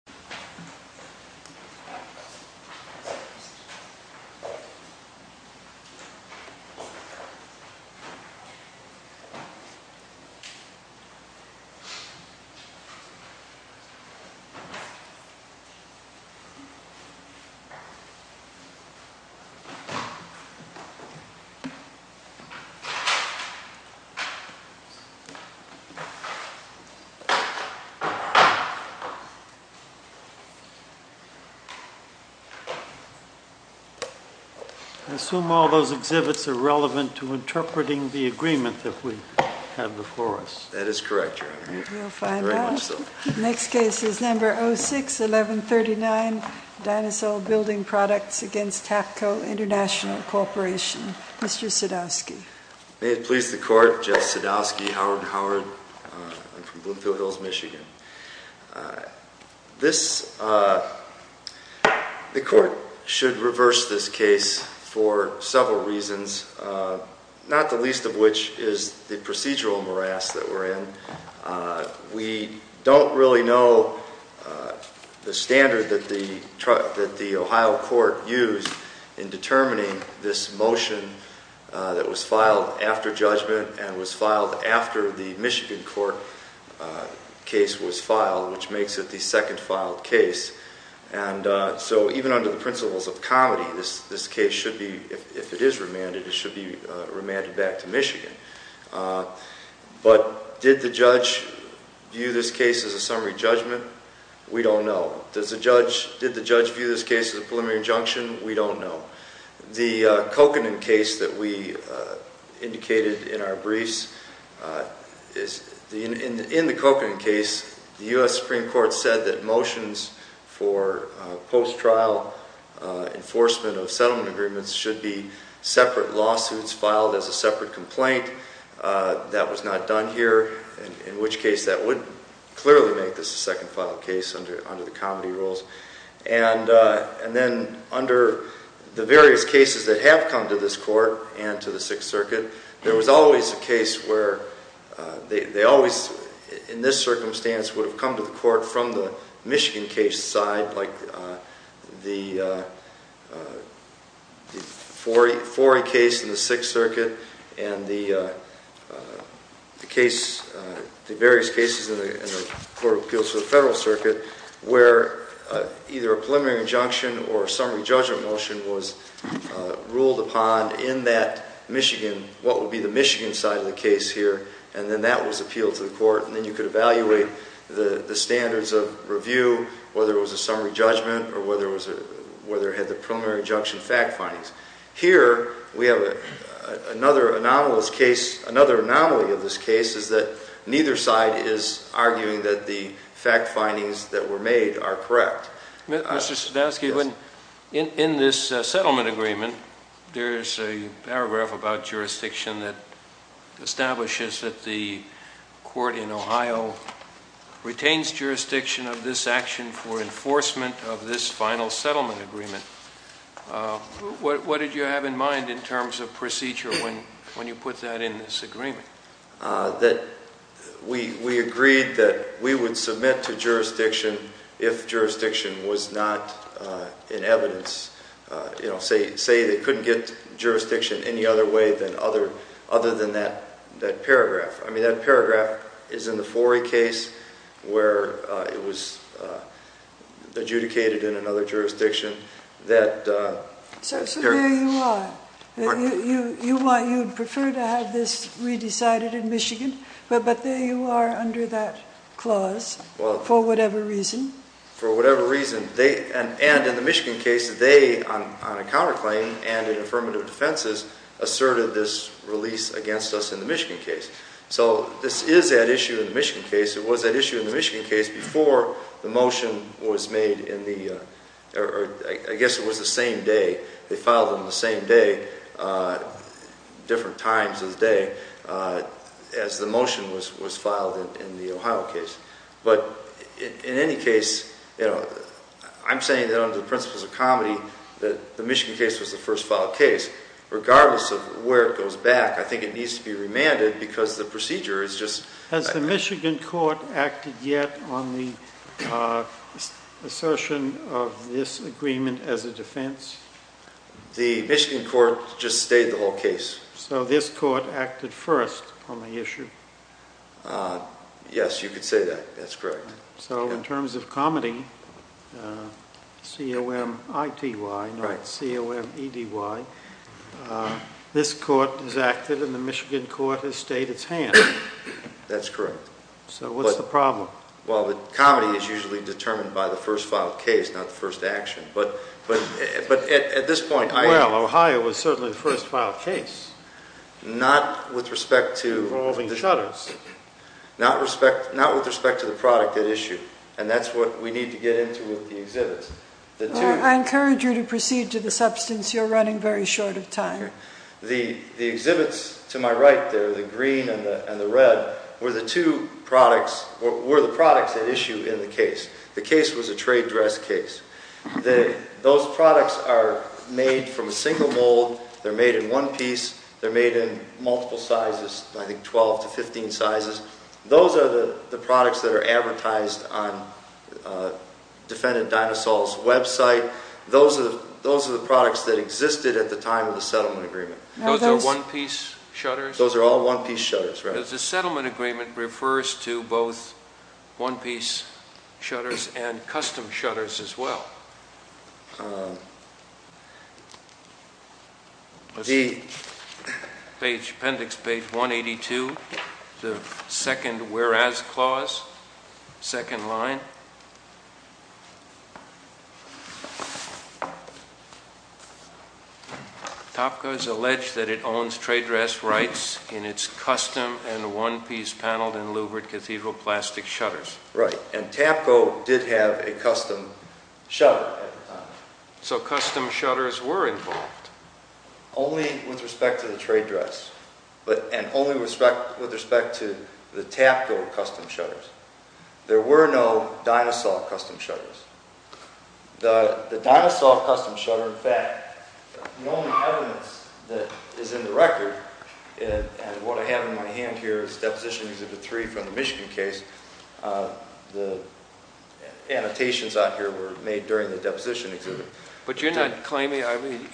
This video shows the process of making a BLDG, which can be used for a variety of purposes. I assume all those exhibits are relevant to interpreting the agreement that we have before us. That is correct, Your Honor. Next case is number 06-1139, Dinesol BLDG Products v. Tapco Intl Corporation. Mr. Sadowski. May it please the Court, Jeff Sadowski, Howard and Howard. I'm from Bloomfield Hills, Michigan. The Court should reverse this case for several reasons, not the least of which is the procedural morass that we're in. We don't really know the standard that the Ohio court used in determining this motion that was filed after judgment and was filed after the Michigan court case was filed, which makes it the second filed case. And so even under the principles of comedy, this case should be, if it is remanded, it should be remanded back to Michigan. But did the judge view this case as a summary judgment? We don't know. Did the judge view this case as a preliminary injunction? We don't know. The Kokanen case that we indicated in our briefs, in the Kokanen case, the U.S. Supreme Court said that motions for post-trial enforcement of settlement agreements should be separate lawsuits filed as a separate complaint. That was not done here, in which case that would clearly make this the second filed case under the comedy rules. And then under the various cases that have come to this court and to the Sixth Circuit, there was always a case where they always, in this circumstance, would have come to the court from the Michigan case side, like the Forry case in the Sixth Circuit and the various cases in the Court of Appeals for the Federal Circuit, where either a preliminary injunction or a summary judgment motion was ruled upon in that Michigan, what would be the Michigan side of the case here, and then that was appealed to the court, and then you could evaluate the standards of review, whether it was a summary judgment or whether it had the preliminary injunction fact findings. Here, we have another anomalous case, another anomaly of this case, is that neither side is arguing that the fact findings that were made are correct. Mr. Sadowski, in this settlement agreement, there's a paragraph about jurisdiction that establishes that the court in Ohio retains jurisdiction of this action for enforcement of this final settlement agreement. What did you have in mind in terms of procedure when you put that in this agreement? We agreed that we would submit to jurisdiction if jurisdiction was not in evidence. Say they couldn't get jurisdiction any other way other than that paragraph. That paragraph is in the Forry case where it was adjudicated in another jurisdiction. So there you are. You'd prefer to have this re-decided in Michigan, but there you are under that clause for whatever reason. For whatever reason. And in the Michigan case, they, on a counterclaim and in affirmative defenses, asserted this release against us in the Michigan case. So this is at issue in the Michigan case. It was at issue in the Michigan case before the motion was made in the, I guess it was the same day. They filed them the same day, different times of the day, as the motion was filed in the Ohio case. But in any case, I'm saying that under the principles of comedy that the Michigan case was the first filed case. Regardless of where it goes back, I think it needs to be remanded because the procedure is just... Has the Michigan court acted yet on the assertion of this agreement as a defense? The Michigan court just stayed the whole case. So this court acted first on the issue? Yes, you could say that. That's correct. So in terms of comedy, C-O-M-I-T-Y, not C-O-M-E-D-Y, this court has acted and the Michigan court has stayed its hand. That's correct. So what's the problem? Well, the comedy is usually determined by the first filed case, not the first action. But at this point... Well, Ohio was certainly the first filed case. Not with respect to... Involving shutters. Not with respect to the product at issue. And that's what we need to get into with the exhibits. I encourage you to proceed to the substance. You're running very short of time. The exhibits to my right there, the green and the red, were the products at issue in the case. The case was a trade dress case. Those products are made from a single mold. They're made in one piece. They're made in multiple sizes. I think 12 to 15 sizes. Those are the products that are advertised on Defendant Dinosaur's website. Those are the products that existed at the time of the settlement agreement. Those are one piece shutters? Those are all one piece shutters. The settlement agreement refers to both one piece shutters and custom shutters as well. Appendix page 182, the second whereas clause, second line. TAPCO has alleged that it owns trade dress rights in its custom and one piece paneled and louvered cathedral plastic shutters. Right. And TAPCO did have a custom shutter at the time. So custom shutters were involved. Only with respect to the trade dress. And only with respect to the TAPCO custom shutters. There were no Dinosaur custom shutters. The Dinosaur custom shutter, in fact, the only evidence that is in the record, and what I have in my hand here is Deposition Exhibit 3 from the Michigan case, the annotations on here were made during the deposition exhibit. But you're not claiming, I mean,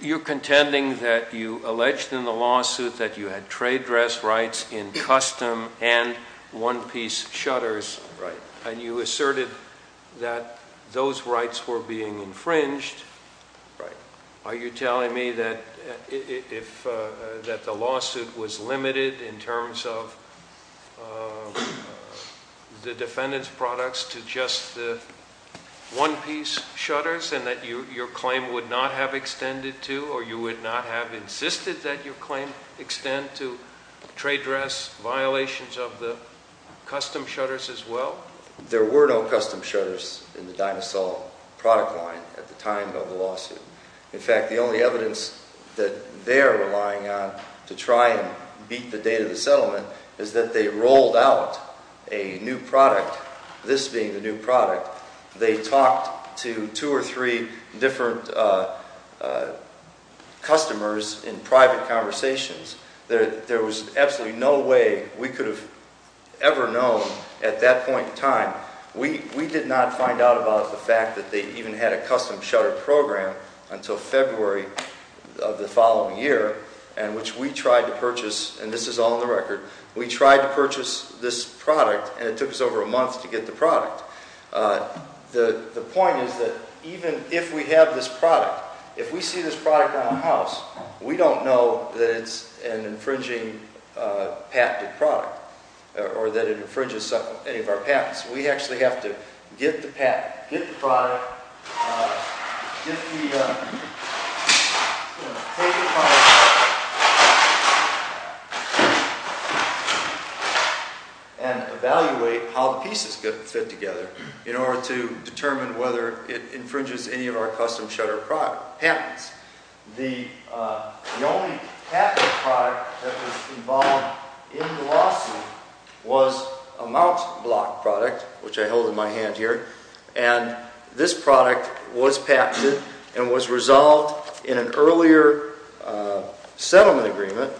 you're contending that you alleged in the lawsuit that you had trade dress rights in custom and one piece shutters. Right. And you asserted that those rights were being infringed. Right. Are you telling me that the lawsuit was limited in terms of the defendant's products to just the one piece shutters and that your claim would not have extended to, or you would not have insisted that your claim extend to trade dress violations of the custom shutters as well? There were no custom shutters in the Dinosaur product line at the time of the lawsuit. In fact, the only evidence that they're relying on to try and beat the date of the settlement is that they rolled out a new product, this being the new product. They talked to two or three different customers in private conversations. There was absolutely no way we could have ever known at that point in time. We did not find out about the fact that they even had a custom shutter program until February of the following year, in which we tried to purchase, and this is all in the record, we tried to purchase this product and it took us over a month to get the product. The point is that even if we have this product, if we see this product on the house, we don't know that it's an infringing patented product or that it infringes any of our patents. We actually have to get the patent, get the product, take it apart and evaluate how the pieces fit together in order to determine whether it infringes any of our custom shutter patents. The only patent product that was involved in the lawsuit was a mount block product, which I hold in my hand here, and this product was patented and was resolved in an earlier settlement agreement,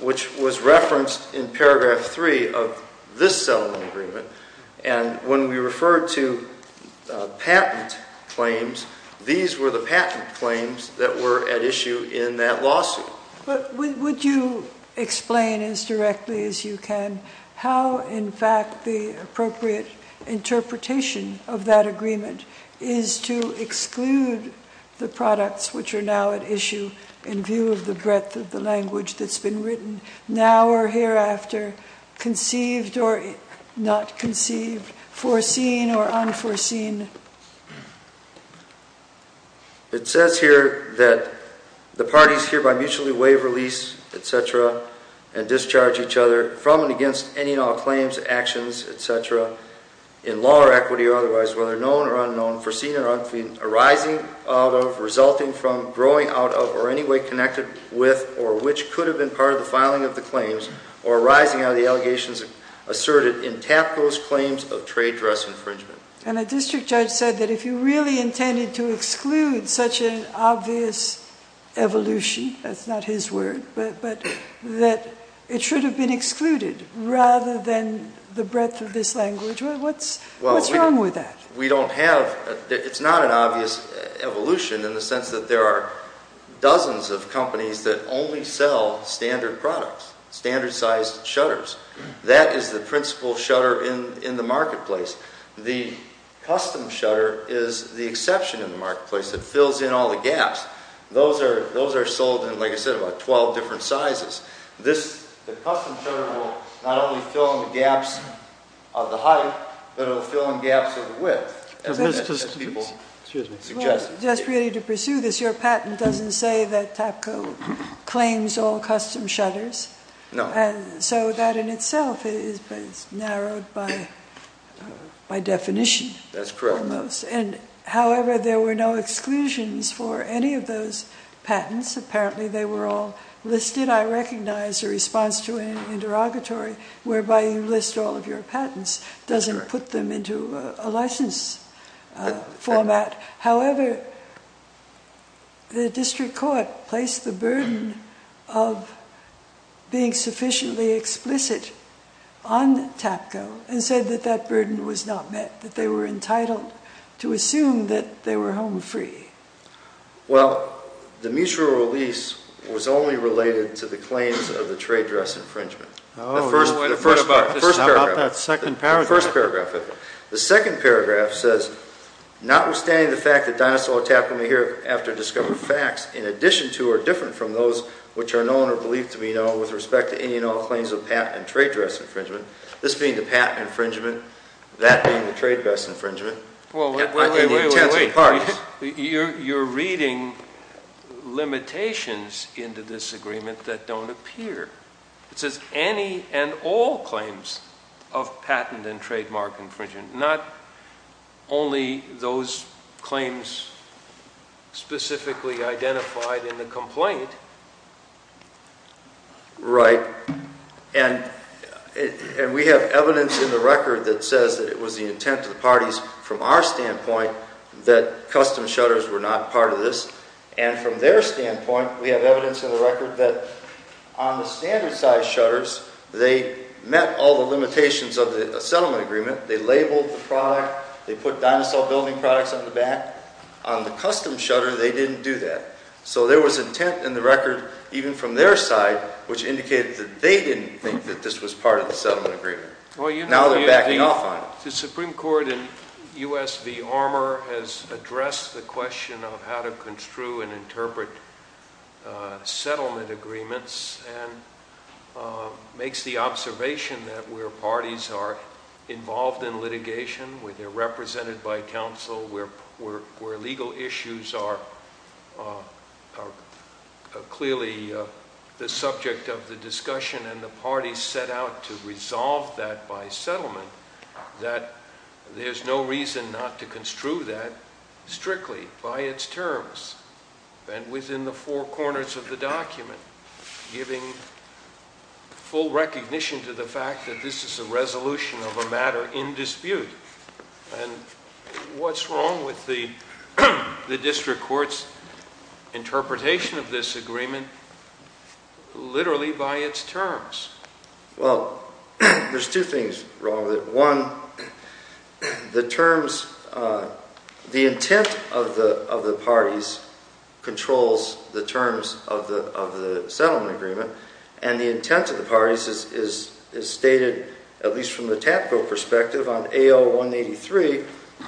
which was referenced in paragraph three of this settlement agreement. When we refer to patent claims, these were the patent claims that were at issue in that lawsuit. Would you explain as directly as you can how in fact the appropriate interpretation of that agreement is to exclude the products which are now at issue in view of the breadth of the language that's been written now or hereafter, conceived or not conceived, foreseen or unforeseen? It says here that the parties hereby mutually waive release, etc., and discharge each other from and against any and all claims, actions, etc., in law or equity or otherwise, whether known or unknown, foreseen or unforeseen, arising out of, resulting from, growing out of, or anyway connected with, or which could have been part of the filing of the claims, or arising out of the allegations asserted in TAPCO's claims of trade dress infringement. And the district judge said that if you really intended to exclude such an obvious evolution, that's not his word, but that it should have been excluded rather than the breadth of this language. What's wrong with that? We don't have, it's not an obvious evolution in the sense that there are dozens of companies that only sell standard products, standard sized shutters. That is the principal shutter in the marketplace. The custom shutter is the exception in the marketplace. It fills in all the gaps. Those are sold in, like I said, about 12 different sizes. The custom shutter will not only fill in the gaps of the height, but it will fill in gaps of the width, as people suggested. Just really to pursue this, your patent doesn't say that TAPCO claims all custom shutters. No. So that in itself is narrowed by definition. That's correct. However, there were no exclusions for any of those patents. Apparently they were all listed. I recognize the response to an interrogatory whereby you list all of your patents doesn't put them into a license format. However, the district court placed the burden of being sufficiently explicit on TAPCO and said that that burden was not met, that they were entitled to assume that they were home free. Well, the mutual release was only related to the claims of the trade dress infringement. The first paragraph of it. The second paragraph says, notwithstanding the fact that Dinosaur TAPCO may hear after discovered facts, in addition to or different from those which are known or believed to be known with respect to any and all claims of patent and trade dress infringement, this being the patent infringement, that being the trade dress infringement, Wait, wait, wait. You're reading limitations into this agreement that don't appear. It says any and all claims of patent and trademark infringement, not only those claims specifically identified in the complaint. Right. And we have evidence in the record that says that it was the intent of the parties from our standpoint that custom shutters were not part of this. And from their standpoint, we have evidence in the record that on the standard size shutters, they met all the limitations of the settlement agreement. They labeled the product. They put dinosaur building products on the back. On the custom shutter, they didn't do that. So there was intent in the record, even from their side, which indicated that they didn't think that this was part of the settlement agreement. Now they're backing off on it. The Supreme Court in U.S. v. Armour has addressed the question of how to construe and interpret settlement agreements and makes the observation that where parties are involved in litigation, where they're represented by counsel, where legal issues are clearly the subject of the discussion and the parties set out to resolve that by settlement, that there's no reason not to construe that strictly by its terms and within the four corners of the document, giving full recognition to the fact that this is a resolution of a matter in dispute. And what's wrong with the district court's interpretation of this agreement literally by its terms? Well, there's two things wrong with it. One, the terms, the intent of the parties controls the terms of the settlement agreement, and the intent of the parties is stated, at least from the TAPCO perspective on AO 183,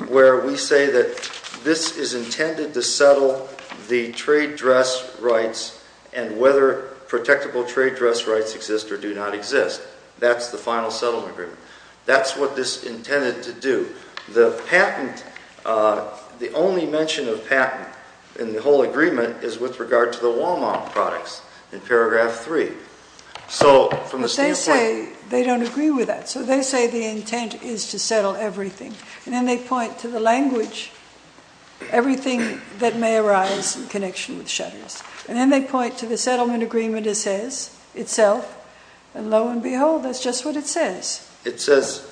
where we say that this is intended to settle the trade dress rights and whether protectable trade dress rights exist or do not exist. That's the final settlement agreement. That's what this is intended to do. The patent, the only mention of patent in the whole agreement is with regard to the Wal-Mart products in paragraph 3. But they say they don't agree with that. So they say the intent is to settle everything. And then they point to the language, everything that may arise in connection with shutters. And then they point to the settlement agreement itself, and lo and behold, that's just what it says. It says,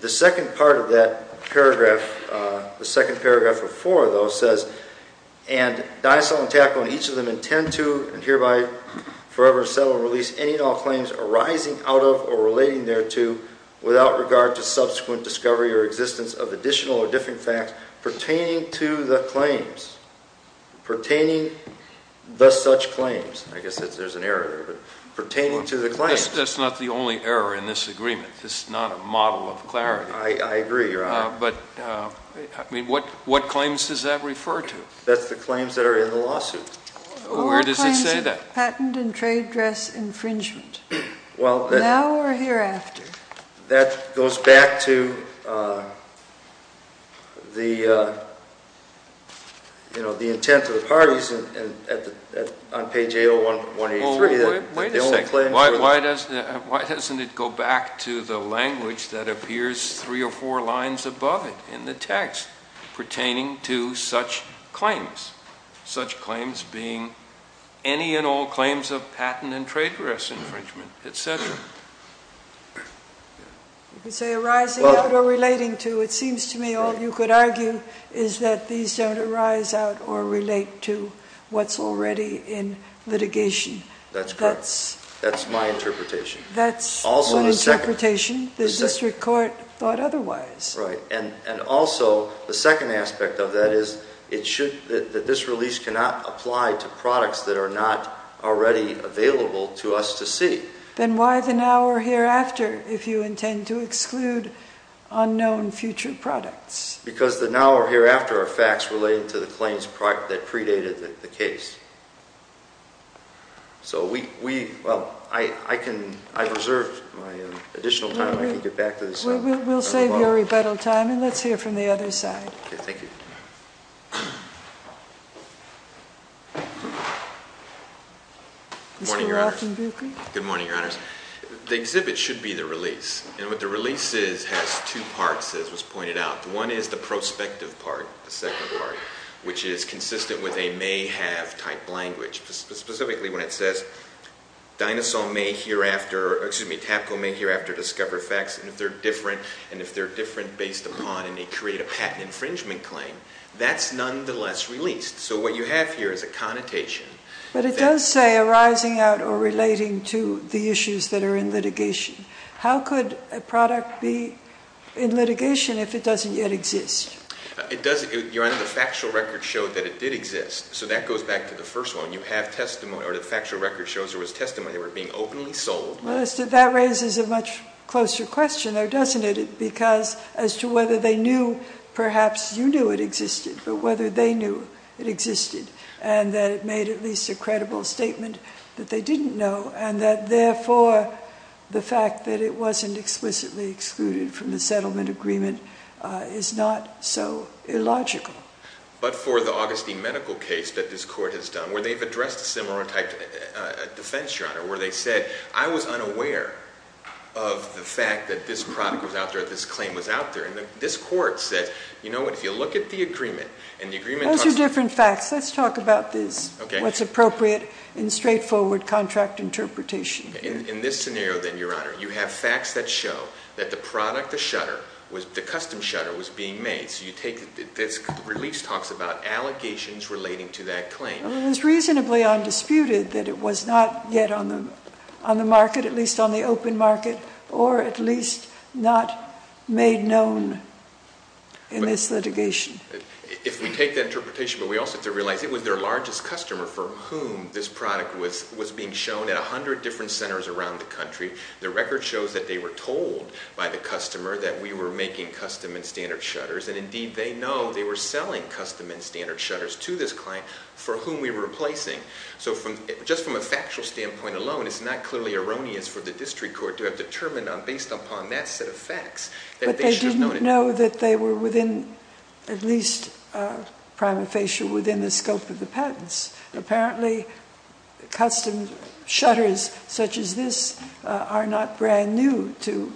the second part of that paragraph, the second paragraph of 4, though, says, and Dyson and TAPCO and each of them intend to and hereby forever settle and release any and all claims arising out of or relating thereto without regard to subsequent discovery or existence of additional or different facts pertaining to the claims, pertaining thus such claims. I guess there's an error there, but pertaining to the claims. That's not the only error in this agreement. It's not a model of clarity. I agree, Your Honor. But, I mean, what claims does that refer to? That's the claims that are in the lawsuit. Where does it say that? All claims of patent and trade dress infringement, now or hereafter. That goes back to the, you know, the intent of the parties on page A0183. Wait a second. Why doesn't it go back to the language that appears three or four lines above it in the text pertaining to such claims? Such claims being any and all claims of patent and trade dress infringement, et cetera. You could say arising out or relating to. It seems to me all you could argue is that these don't arise out or relate to what's already in litigation. That's correct. That's my interpretation. That's also an interpretation the district court thought otherwise. Right. And also the second aspect of that is that this release cannot apply to products that are not already available to us to see. Then why the now or hereafter if you intend to exclude unknown future products? Because the now or hereafter are facts relating to the claims that predated the case. So we, well, I've reserved my additional time. I can get back to this. We'll save your rebuttal time and let's hear from the other side. Okay, thank you. Good morning, Your Honors. Mr. Rothenbuchen. Good morning, Your Honors. The exhibit should be the release. And what the release is has two parts as was pointed out. One is the prospective part, the second part, which is consistent with a may have type language. Specifically when it says dinosaur may hereafter, excuse me, TAPCO may hereafter discover facts. And if they're different and if they're different based upon and they create a patent infringement claim, that's nonetheless released. So what you have here is a connotation. But it does say arising out or relating to the issues that are in litigation. How could a product be in litigation if it doesn't yet exist? It doesn't. Your Honor, the factual record showed that it did exist. So that goes back to the first one. You have testimony or the factual record shows there was testimony. They were being openly sold. Well, that raises a much closer question there, doesn't it? Because as to whether they knew, perhaps you knew it existed, but whether they knew it existed and that it made at least a credible statement that they didn't know and that therefore the fact that it wasn't explicitly excluded from the settlement agreement is not so illogical. But for the Augustine medical case that this Court has done where they've addressed a similar type of defense, Your Honor, where they said, I was unaware of the fact that this product was out there, this claim was out there. And this Court said, you know what, if you look at the agreement and the agreement talks about- Those are different facts. Let's talk about this. Okay. What's appropriate in straightforward contract interpretation. In this scenario then, Your Honor, you have facts that show that the product, the shutter, the custom shutter was being made. This release talks about allegations relating to that claim. It was reasonably undisputed that it was not yet on the market, at least on the open market, or at least not made known in this litigation. If we take the interpretation, but we also have to realize it was their largest customer for whom this product was being shown at 100 different centers around the country. The record shows that they were told by the customer that we were making custom and standard shutters, and indeed they know they were selling custom and standard shutters to this client for whom we were replacing. So just from a factual standpoint alone, it's not clearly erroneous for the district court to have determined, based upon that set of facts, that they should have known- But they didn't know that they were within, at least prima facie, within the scope of the patents. Apparently custom shutters such as this are not brand new to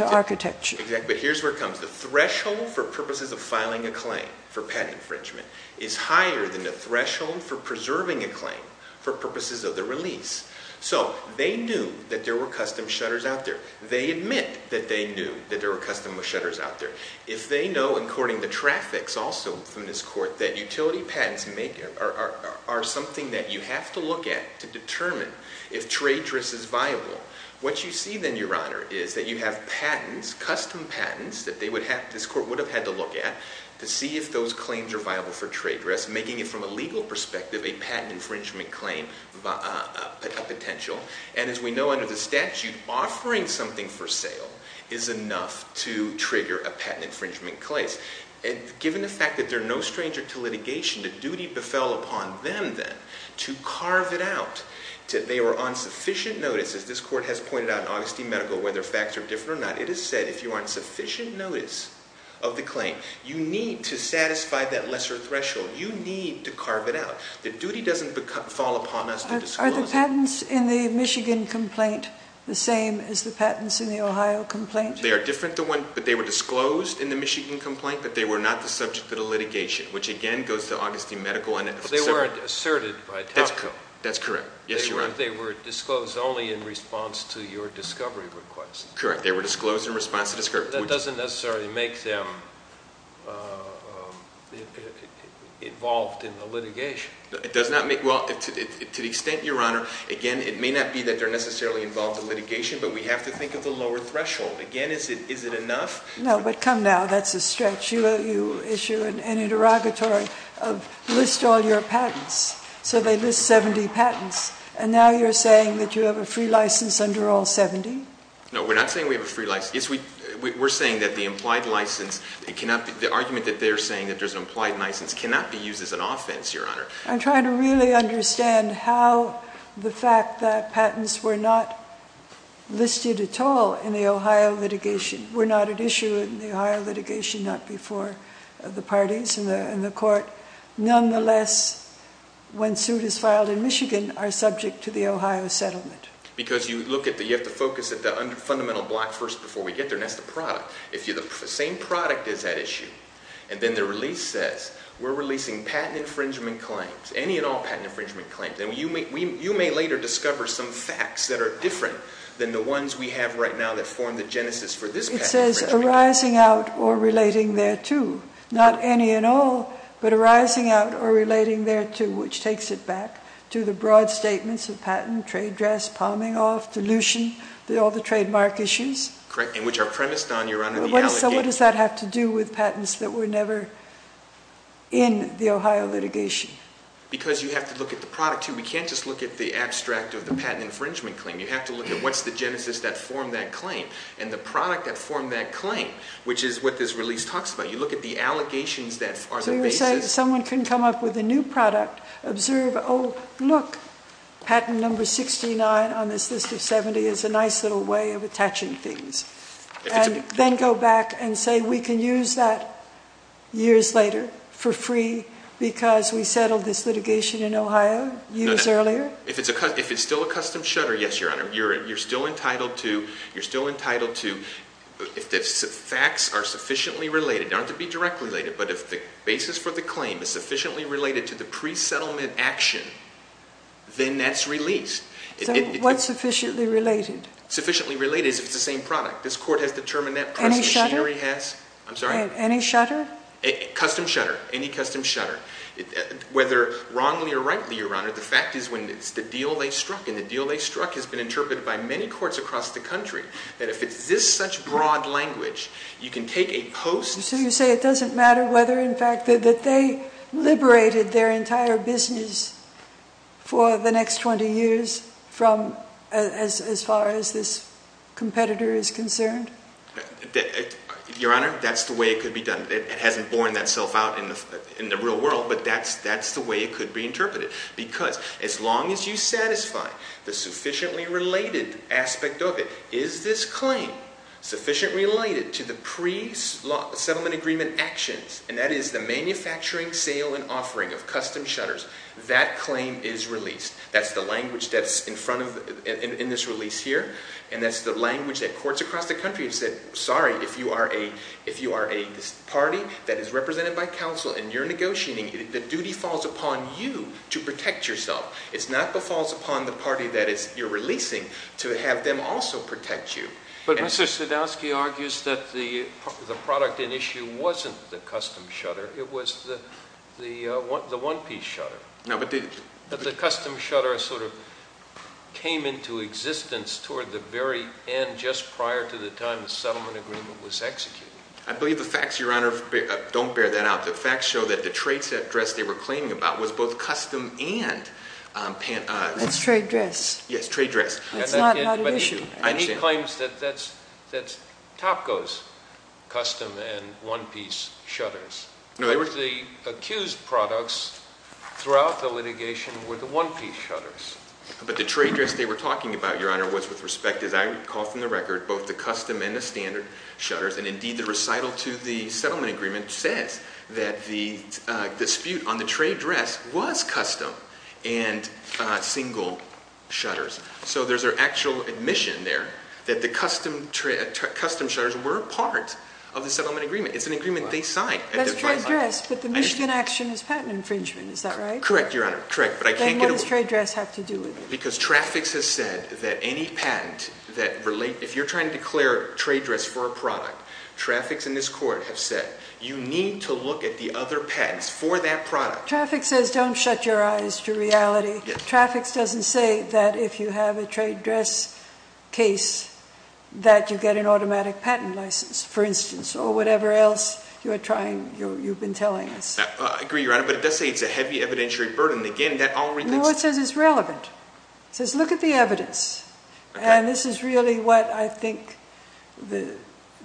architecture. Exactly. Here's where it comes. The threshold for purposes of filing a claim for patent infringement is higher than the threshold for preserving a claim for purposes of the release. So they knew that there were custom shutters out there. They admit that they knew that there were custom shutters out there. If they know, according to traffics also from this court, that utility patents are something that you have to look at to determine if trade risk is viable, what you see then, Your Honor, is that you have patents, custom patents, that this court would have had to look at to see if those claims are viable for trade risk, making it from a legal perspective a patent infringement claim potential. And as we know under the statute, offering something for sale is enough to trigger a patent infringement claim. Given the fact that they're no stranger to litigation, the duty befell upon them then to carve it out. They were on sufficient notice, as this court has pointed out in Augustine Medical, whether facts are different or not. It is said if you are on sufficient notice of the claim, you need to satisfy that lesser threshold. You need to carve it out. The duty doesn't fall upon us to disclose it. Are the patents in the Michigan complaint the same as the patents in the Ohio complaint? They are different, but they were disclosed in the Michigan complaint, but they were not the subject of the litigation, which again goes to Augustine Medical. They weren't asserted by Tocco. That's correct. Yes, Your Honor. They were disclosed only in response to your discovery request. Correct. They were disclosed in response to discovery. That doesn't necessarily make them involved in the litigation. Well, to the extent, Your Honor, again, it may not be that they're necessarily involved in litigation, but we have to think of the lower threshold. Again, is it enough? No, but come now. That's a stretch. You issue an interrogatory of list all your patents. So they list 70 patents, and now you're saying that you have a free license under all 70? No, we're not saying we have a free license. We're saying that the argument that they're saying that there's an implied license cannot be used as an offense, Your Honor. I'm trying to really understand how the fact that patents were not listed at all in the Ohio litigation, were not at issue in the Ohio litigation, not before the parties in the court. Nonetheless, when suit is filed in Michigan, are subject to the Ohio settlement. Because you have to focus at the fundamental block first before we get there, and that's the product. If the same product is at issue, and then the release says, we're releasing patent infringement claims, any and all patent infringement claims. You may later discover some facts that are different than the ones we have right now that form the genesis for this patent infringement claim. It says, arising out or relating thereto. Not any and all, but arising out or relating thereto, which takes it back to the broad statements of patent, trade dress, palming off, dilution, all the trademark issues. Correct, and which are premised on, Your Honor, the allegations. What does that have to do with patents that were never in the Ohio litigation? Because you have to look at the product, too. We can't just look at the abstract of the patent infringement claim. You have to look at what's the genesis that formed that claim, and the product that formed that claim, which is what this release talks about. You look at the allegations that are the basis. Someone can come up with a new product, observe, oh, look, patent number 69 on this list of 70 is a nice little way of attaching things, and then go back and say, we can use that years later for free because we settled this litigation in Ohio years earlier. If it's still a custom shutter, yes, Your Honor. You're still entitled to, if the facts are sufficiently related, not to be directly related, but if the basis for the claim is sufficiently related to the pre-settlement action, then that's released. So what's sufficiently related? Sufficiently related is if it's the same product. This court has determined that. Any shutter? I'm sorry? Any shutter? Custom shutter, any custom shutter. Whether wrongly or rightly, Your Honor, the fact is when it's the deal they struck, and the deal they struck has been interpreted by many courts across the country, that if it's this such broad language, you can take a post. So you say it doesn't matter whether, in fact, that they liberated their entire business for the next 20 years as far as this competitor is concerned? Your Honor, that's the way it could be done. It hasn't borne that self out in the real world, but that's the way it could be interpreted because as long as you satisfy the sufficiently related aspect of it, is this claim sufficiently related to the pre-settlement agreement actions, and that is the manufacturing, sale, and offering of custom shutters, that claim is released. That's the language that's in this release here, and that's the language that courts across the country have said, sorry, if you are a party that is represented by counsel and you're negotiating, the duty falls upon you to protect yourself. It not befalls upon the party that you're releasing to have them also protect you. But Mr. Sadowski argues that the product at issue wasn't the custom shutter. It was the one-piece shutter. No, but the... The custom shutter sort of came into existence toward the very end, just prior to the time the settlement agreement was executed. I believe the facts, Your Honor, don't bear that out. The facts show that the trade set dress they were claiming about was both custom and... That's trade dress. Yes, trade dress. That's not an issue. I understand. But he claims that that's Topko's custom and one-piece shutters. No, they were... The accused products throughout the litigation were the one-piece shutters. But the trade dress they were talking about, Your Honor, was with respect, as I recall from the record, both the custom and the standard shutters, and indeed the recital to the settlement agreement says that the dispute on the trade dress was custom and single shutters. So there's an actual admission there that the custom shutters were part of the settlement agreement. It's an agreement they signed. That's trade dress, but the Michigan action is patent infringement. Is that right? Correct, Your Honor, correct. Then what does trade dress have to do with it? Because Traffix has said that any patent that relates, if you're trying to declare trade dress for a product, Traffix and this court have said you need to look at the other patents for that product. Traffix says don't shut your eyes to reality. Traffix doesn't say that if you have a trade dress case that you get an automatic patent license, for instance, or whatever else you're trying, you've been telling us. I agree, Your Honor, but it does say it's a heavy evidentiary burden. No, it says it's relevant. It says look at the evidence, and this is really what I think the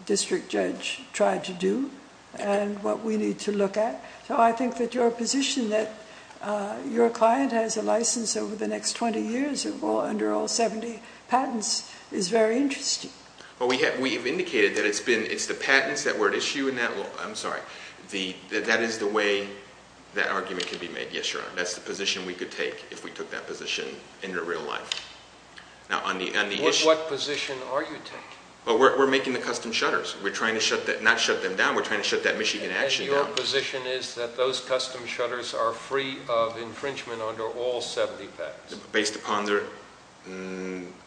district judge tried to do and what we need to look at. So I think that your position that your client has a license over the next 20 years under all 70 patents is very interesting. Well, we have indicated that it's the patents that were at issue in that law. I'm sorry. That is the way that argument can be made. Yes, Your Honor. That's the position we could take if we took that position into real life. What position are you taking? We're making the custom shutters. We're trying to not shut them down. We're trying to shut that Michigan action down. And your position is that those custom shutters are free of infringement under all 70 patents? Based upon their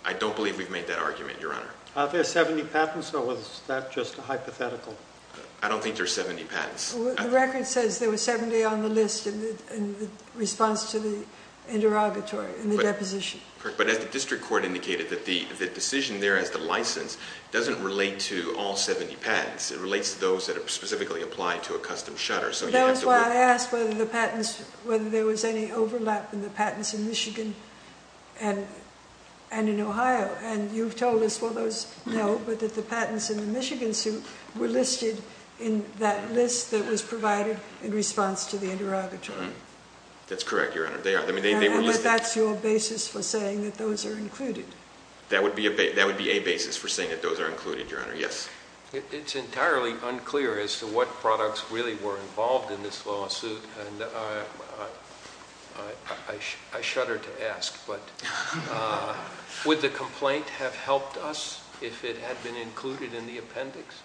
– I don't believe we've made that argument, Your Honor. Are there 70 patents, or was that just a hypothetical? I don't think there are 70 patents. The record says there were 70 on the list in response to the interrogatory and the deposition. But as the district court indicated, the decision there as the license doesn't relate to all 70 patents. It relates to those that are specifically applied to a custom shutter. That was why I asked whether there was any overlap in the patents in Michigan and in Ohio. And you've told us, well, those – no, but that the patents in the Michigan suit were listed in that list that was provided in response to the interrogatory. That's correct, Your Honor. They are. But that's your basis for saying that those are included. That would be a basis for saying that those are included, Your Honor. Yes. It's entirely unclear as to what products really were involved in this lawsuit. I shudder to ask, but would the complaint have helped us if it had been included in the appendix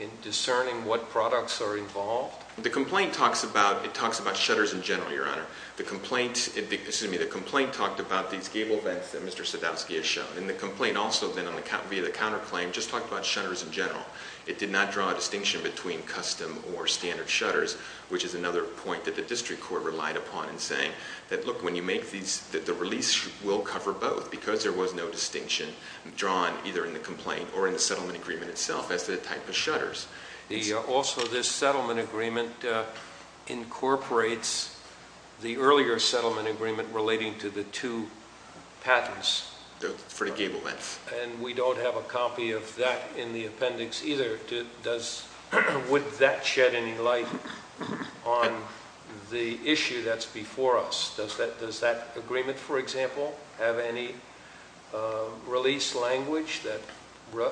in discerning what products are involved? The complaint talks about – it talks about shutters in general, Your Honor. The complaint – excuse me. The complaint talked about these gable vents that Mr. Sadowski has shown. And the complaint also then, via the counterclaim, just talked about shutters in general. It did not draw a distinction between custom or standard shutters, which is another point that the district court relied upon in saying that, look, when you make these – that the release will cover both because there was no distinction drawn either in the complaint or in the settlement agreement itself as to the type of shutters. Also, this settlement agreement incorporates the earlier settlement agreement relating to the two patents. For the gable vents. And we don't have a copy of that in the appendix either. Does – would that shed any light on the issue that's before us? Does that agreement, for example, have any release language that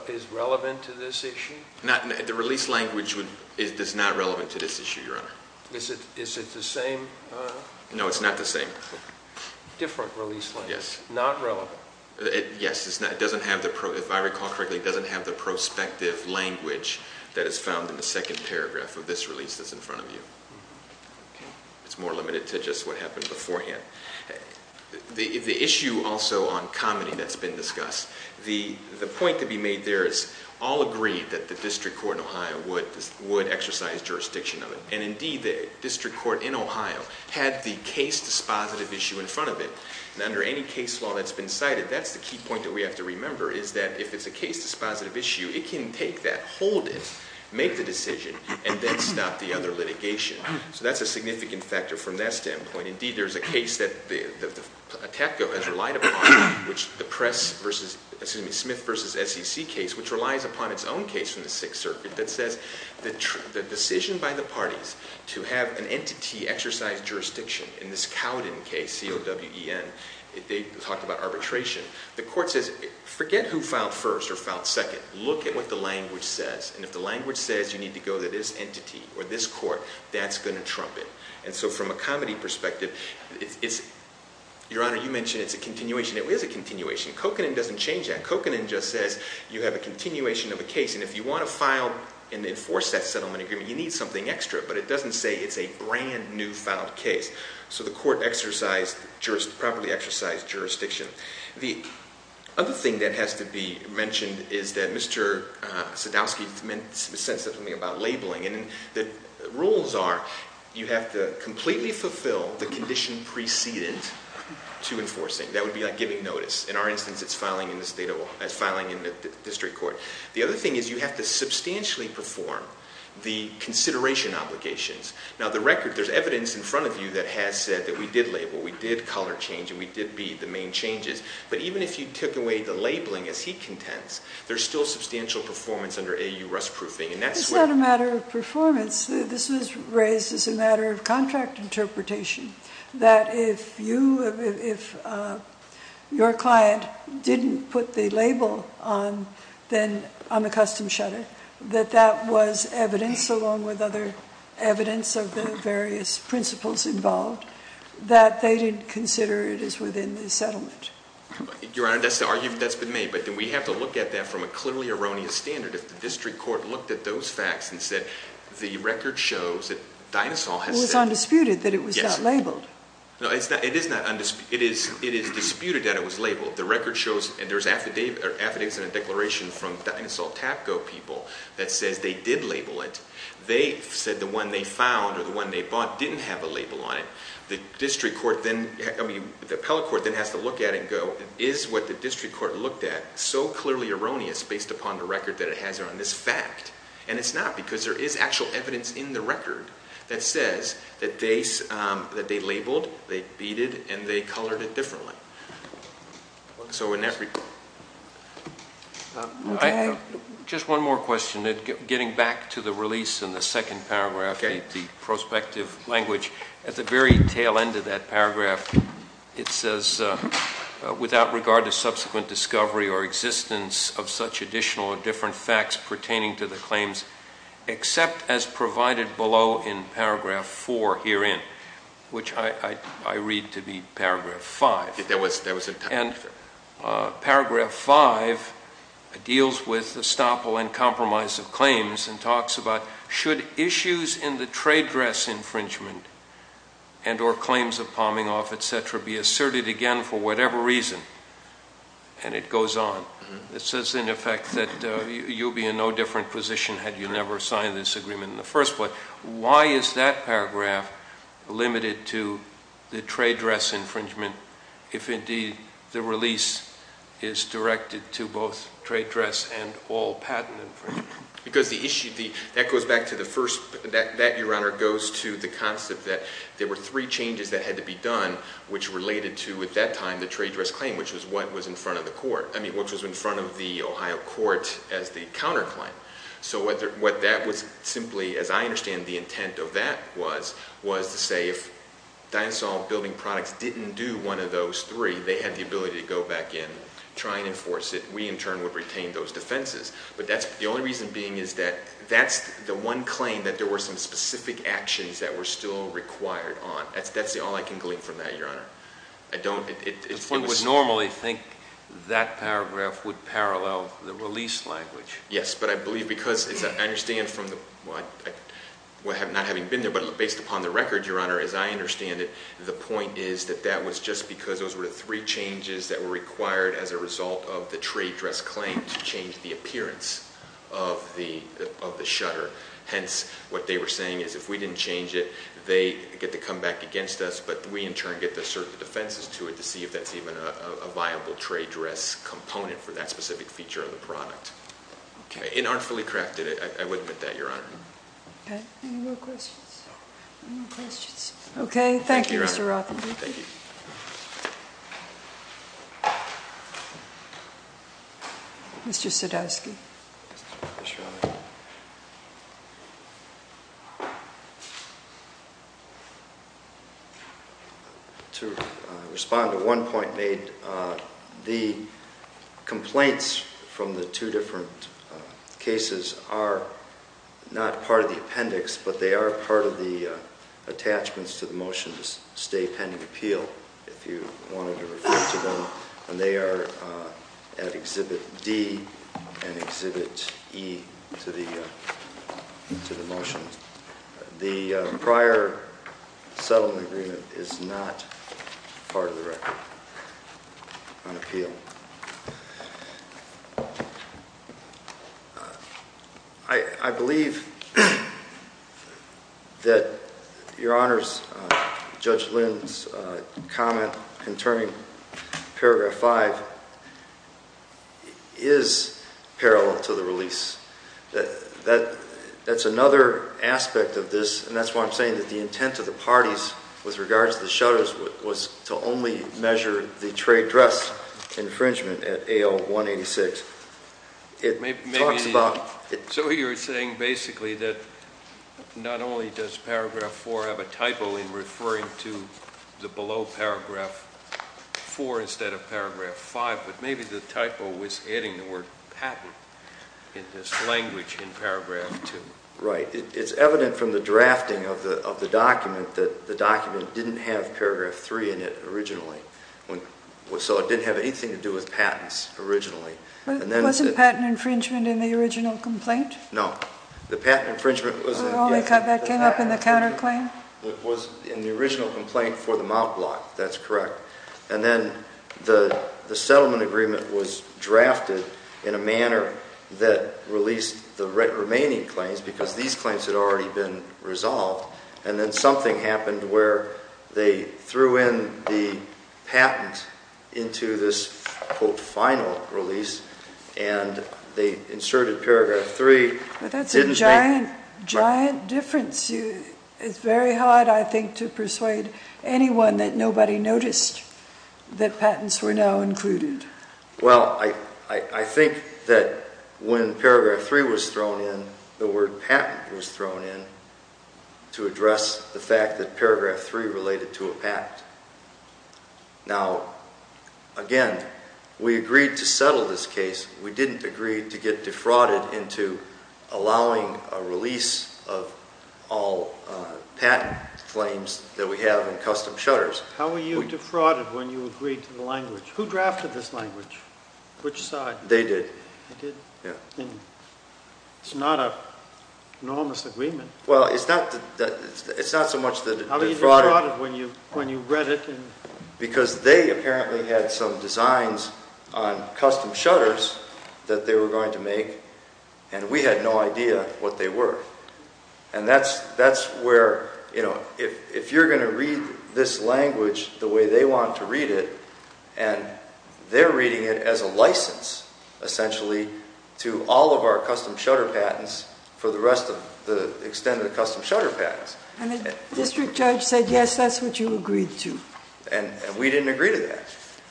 is relevant to this issue? The release language is not relevant to this issue, Your Honor. Is it the same? No, it's not the same. Different release language. Yes. Not relevant. Yes. It doesn't have the – if I recall correctly, it doesn't have the prospective language that is found in the second paragraph of this release that's in front of you. Okay. It's more limited to just what happened beforehand. The issue also on comedy that's been discussed. The point to be made there is all agreed that the district court in Ohio would exercise jurisdiction of it. And indeed, the district court in Ohio had the case dispositive issue in front of it. And under any case law that's been cited, that's the key point that we have to remember is that if it's a case dispositive issue, it can take that, hold it, make the decision, and then stop the other litigation. So that's a significant factor from that standpoint. Indeed, there's a case that ATATCO has relied upon, which the Smith v. SEC case, which relies upon its own case from the Sixth Circuit that says the decision by the parties to have an entity exercise jurisdiction in this Cowden case, C-O-W-E-N, they talked about arbitration. The court says forget who filed first or filed second. Look at what the language says. And if the language says you need to go to this entity or this court, that's going to trump it. And so from a comedy perspective, it's, Your Honor, you mentioned it's a continuation. It is a continuation. Kokanen doesn't change that. Kokanen just says you have a continuation of a case, and if you want to file and enforce that settlement agreement, you need something extra. But it doesn't say it's a brand-new filed case. So the court exercised, properly exercised jurisdiction. The other thing that has to be mentioned is that Mr. Sadowski sent something about labeling. And the rules are you have to completely fulfill the condition preceded to enforcing. That would be like giving notice. In our instance, it's filing in the district court. The other thing is you have to substantially perform the consideration obligations. Now, the record, there's evidence in front of you that has said that we did label. We did color change, and we did be the main changes. But even if you took away the labeling as he contends, there's still substantial performance under AU rust proofing. And that's what- It's not a matter of performance. This was raised as a matter of contract interpretation. That if you, if your client didn't put the label on the custom shutter, that that was evidence along with other evidence of the various principles involved. That they didn't consider it as within the settlement. Your Honor, that's the argument that's been made. But then we have to look at that from a clearly erroneous standard. If the district court looked at those facts and said the record shows that Dinosaur has said- It was undisputed that it was not labeled. No, it is not undisputed. It is disputed that it was labeled. The record shows, and there's affidavits and a declaration from Dinosaur Tapco people that says they did label it. They said the one they found or the one they bought didn't have a label on it. The district court then, I mean the appellate court then has to look at it and go, is what the district court looked at so clearly erroneous based upon the record that it has on this fact? And it's not because there is actual evidence in the record that says that they labeled, they beaded, and they colored it differently. So in every- Go ahead. Just one more question. Getting back to the release in the second paragraph, the prospective language. At the very tail end of that paragraph, it says, without regard to subsequent discovery or existence of such additional or different facts pertaining to the claims, except as provided below in paragraph four herein, which I read to be paragraph five. There was a- And paragraph five deals with the estoppel and compromise of claims and talks about, should issues in the trade dress infringement and or claims of palming off, et cetera, be asserted again for whatever reason? And it goes on. It says, in effect, that you'll be in no different position had you never signed this agreement in the first place. So why is that paragraph limited to the trade dress infringement if, indeed, the release is directed to both trade dress and all patent infringement? Because the issue- That goes back to the first- That, Your Honor, goes to the concept that there were three changes that had to be done, which related to, at that time, the trade dress claim, which was what was in front of the court. I mean, which was in front of the Ohio court as the counterclaim. So what that was simply, as I understand the intent of that was, was to say if Dinosaur Building Products didn't do one of those three, they had the ability to go back in, try and enforce it. We, in turn, would retain those defenses. But the only reason being is that that's the one claim that there were some specific actions that were still required on. That's all I can glean from that, Your Honor. I don't- But one would normally think that paragraph would parallel the release language. Yes, but I believe because I understand from the- Well, not having been there, but based upon the record, Your Honor, as I understand it, the point is that that was just because those were the three changes that were required as a result of the trade dress claim to change the appearance of the shutter. Hence, what they were saying is if we didn't change it, they get to come back against us, but we, in turn, get to assert the defenses to it to see if that's even a viable trade dress component for that specific feature of the product. Okay. It aren't fully corrected. I would admit that, Your Honor. Okay. Any more questions? No. Any more questions? Okay. Thank you, Your Honor. Thank you, Mr. Rothenberg. Thank you. Mr. Sadowski. Yes, Your Honor. To respond to one point made, the complaints from the two different cases are not part of the appendix, but they are part of the attachments to the motion to stay pending appeal, if you wanted to refer to them, and they are at Exhibit D and Exhibit E to the motion. The prior settlement agreement is not part of the record on appeal. I believe that Your Honor's, Judge Lynn's, comment concerning Paragraph 5 is parallel to the release. That's another aspect of this, and that's why I'm saying that the intent of the parties with regards to the shutters was to only measure the trade dress infringement at AL 186. It talks about So you're saying basically that not only does Paragraph 4 have a typo in referring to the below Paragraph 4 instead of Paragraph 5, but maybe the typo was adding the word patent in this language in Paragraph 2. Right. It's evident from the drafting of the document that the document didn't have Paragraph 3 in it originally, so it didn't have anything to do with patents originally. Wasn't patent infringement in the original complaint? No. The patent infringement was in the original complaint for the mount block. That's correct. And then the settlement agreement was drafted in a manner that released the remaining claims, because these claims had already been resolved. And then something happened where they threw in the patent into this, quote, final release, and they inserted Paragraph 3. But that's a giant, giant difference. It's very hard, I think, to persuade anyone that nobody noticed that patents were now included. Well, I think that when Paragraph 3 was thrown in, the word patent was thrown in to address the fact that Paragraph 3 related to a patent. Now, again, we agreed to settle this case. We didn't agree to get defrauded into allowing a release of all patent claims that we have in custom shutters. How were you defrauded when you agreed to the language? Who drafted this language? Which side? They did. They did? Yeah. It's not an enormous agreement. Well, it's not so much the defrauding. How were you defrauded when you read it? Because they apparently had some designs on custom shutters that they were going to make, and we had no idea what they were. And that's where, you know, if you're going to read this language the way they want to read it, and they're reading it as a license, essentially, to all of our custom shutter patents for the rest of the extended custom shutter patents. And the district judge said, yes, that's what you agreed to. And we didn't agree to that.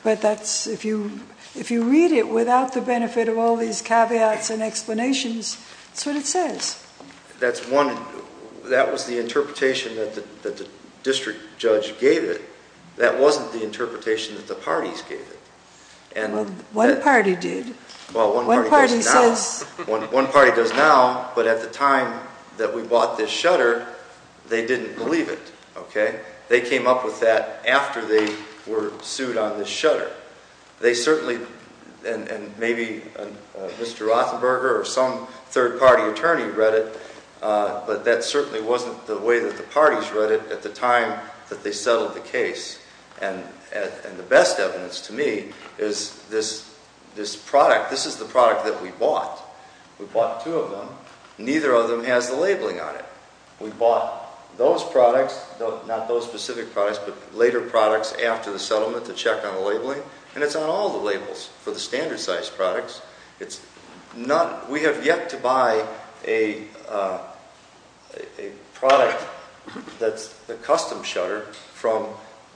But that's, if you read it without the benefit of all these caveats and explanations, that's what it says. That's one, that was the interpretation that the district judge gave it. That wasn't the interpretation that the parties gave it. Well, one party did. Well, one party does now. But at the time that we bought this shutter, they didn't believe it, okay? They came up with that after they were sued on this shutter. They certainly, and maybe Mr. Rothenberger or some third-party attorney read it, but that certainly wasn't the way that the parties read it at the time that they settled the case. And the best evidence to me is this product. This is the product that we bought. We bought two of them. Neither of them has the labeling on it. We bought those products, not those specific products, but later products after the settlement to check on the labeling. And it's on all the labels for the standard-sized products. It's not, we have yet to buy a product that's the custom shutter from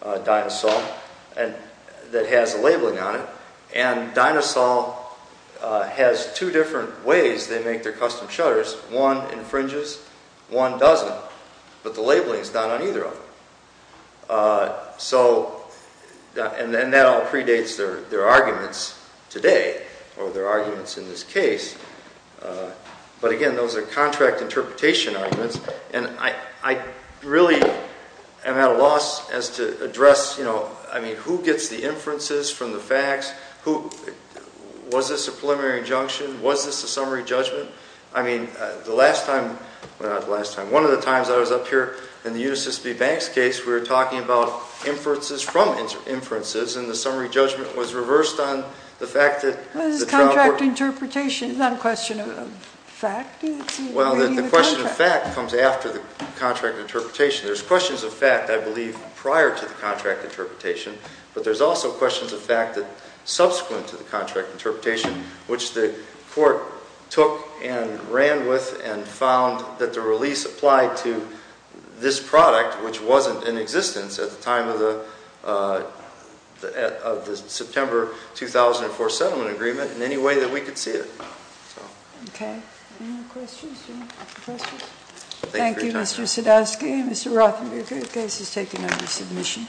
Dynasol that has the labeling on it. And Dynasol has two different ways they make their custom shutters. One infringes, one doesn't. But the labeling's not on either of them. So, and that all predates their arguments today or their arguments in this case. But again, those are contract interpretation arguments. And I really am at a loss as to address, you know, I mean, who gets the inferences from the facts? Was this a preliminary injunction? Was this a summary judgment? I mean, the last time, well, not the last time. One of the times I was up here in the Unisys v. Banks case, we were talking about inferences from inferences, and the summary judgment was reversed on the fact that- It was contract interpretation, not a question of fact. Well, the question of fact comes after the contract interpretation. There's questions of fact, I believe, prior to the contract interpretation, but there's also questions of fact subsequent to the contract interpretation, which the court took and ran with and found that the release applied to this product, which wasn't in existence at the time of the September 2004 settlement agreement in any way that we could see it. Okay. Any more questions? Thank you, Mr. Sadowski. Mr. Rothenberg, your case is taken under submission.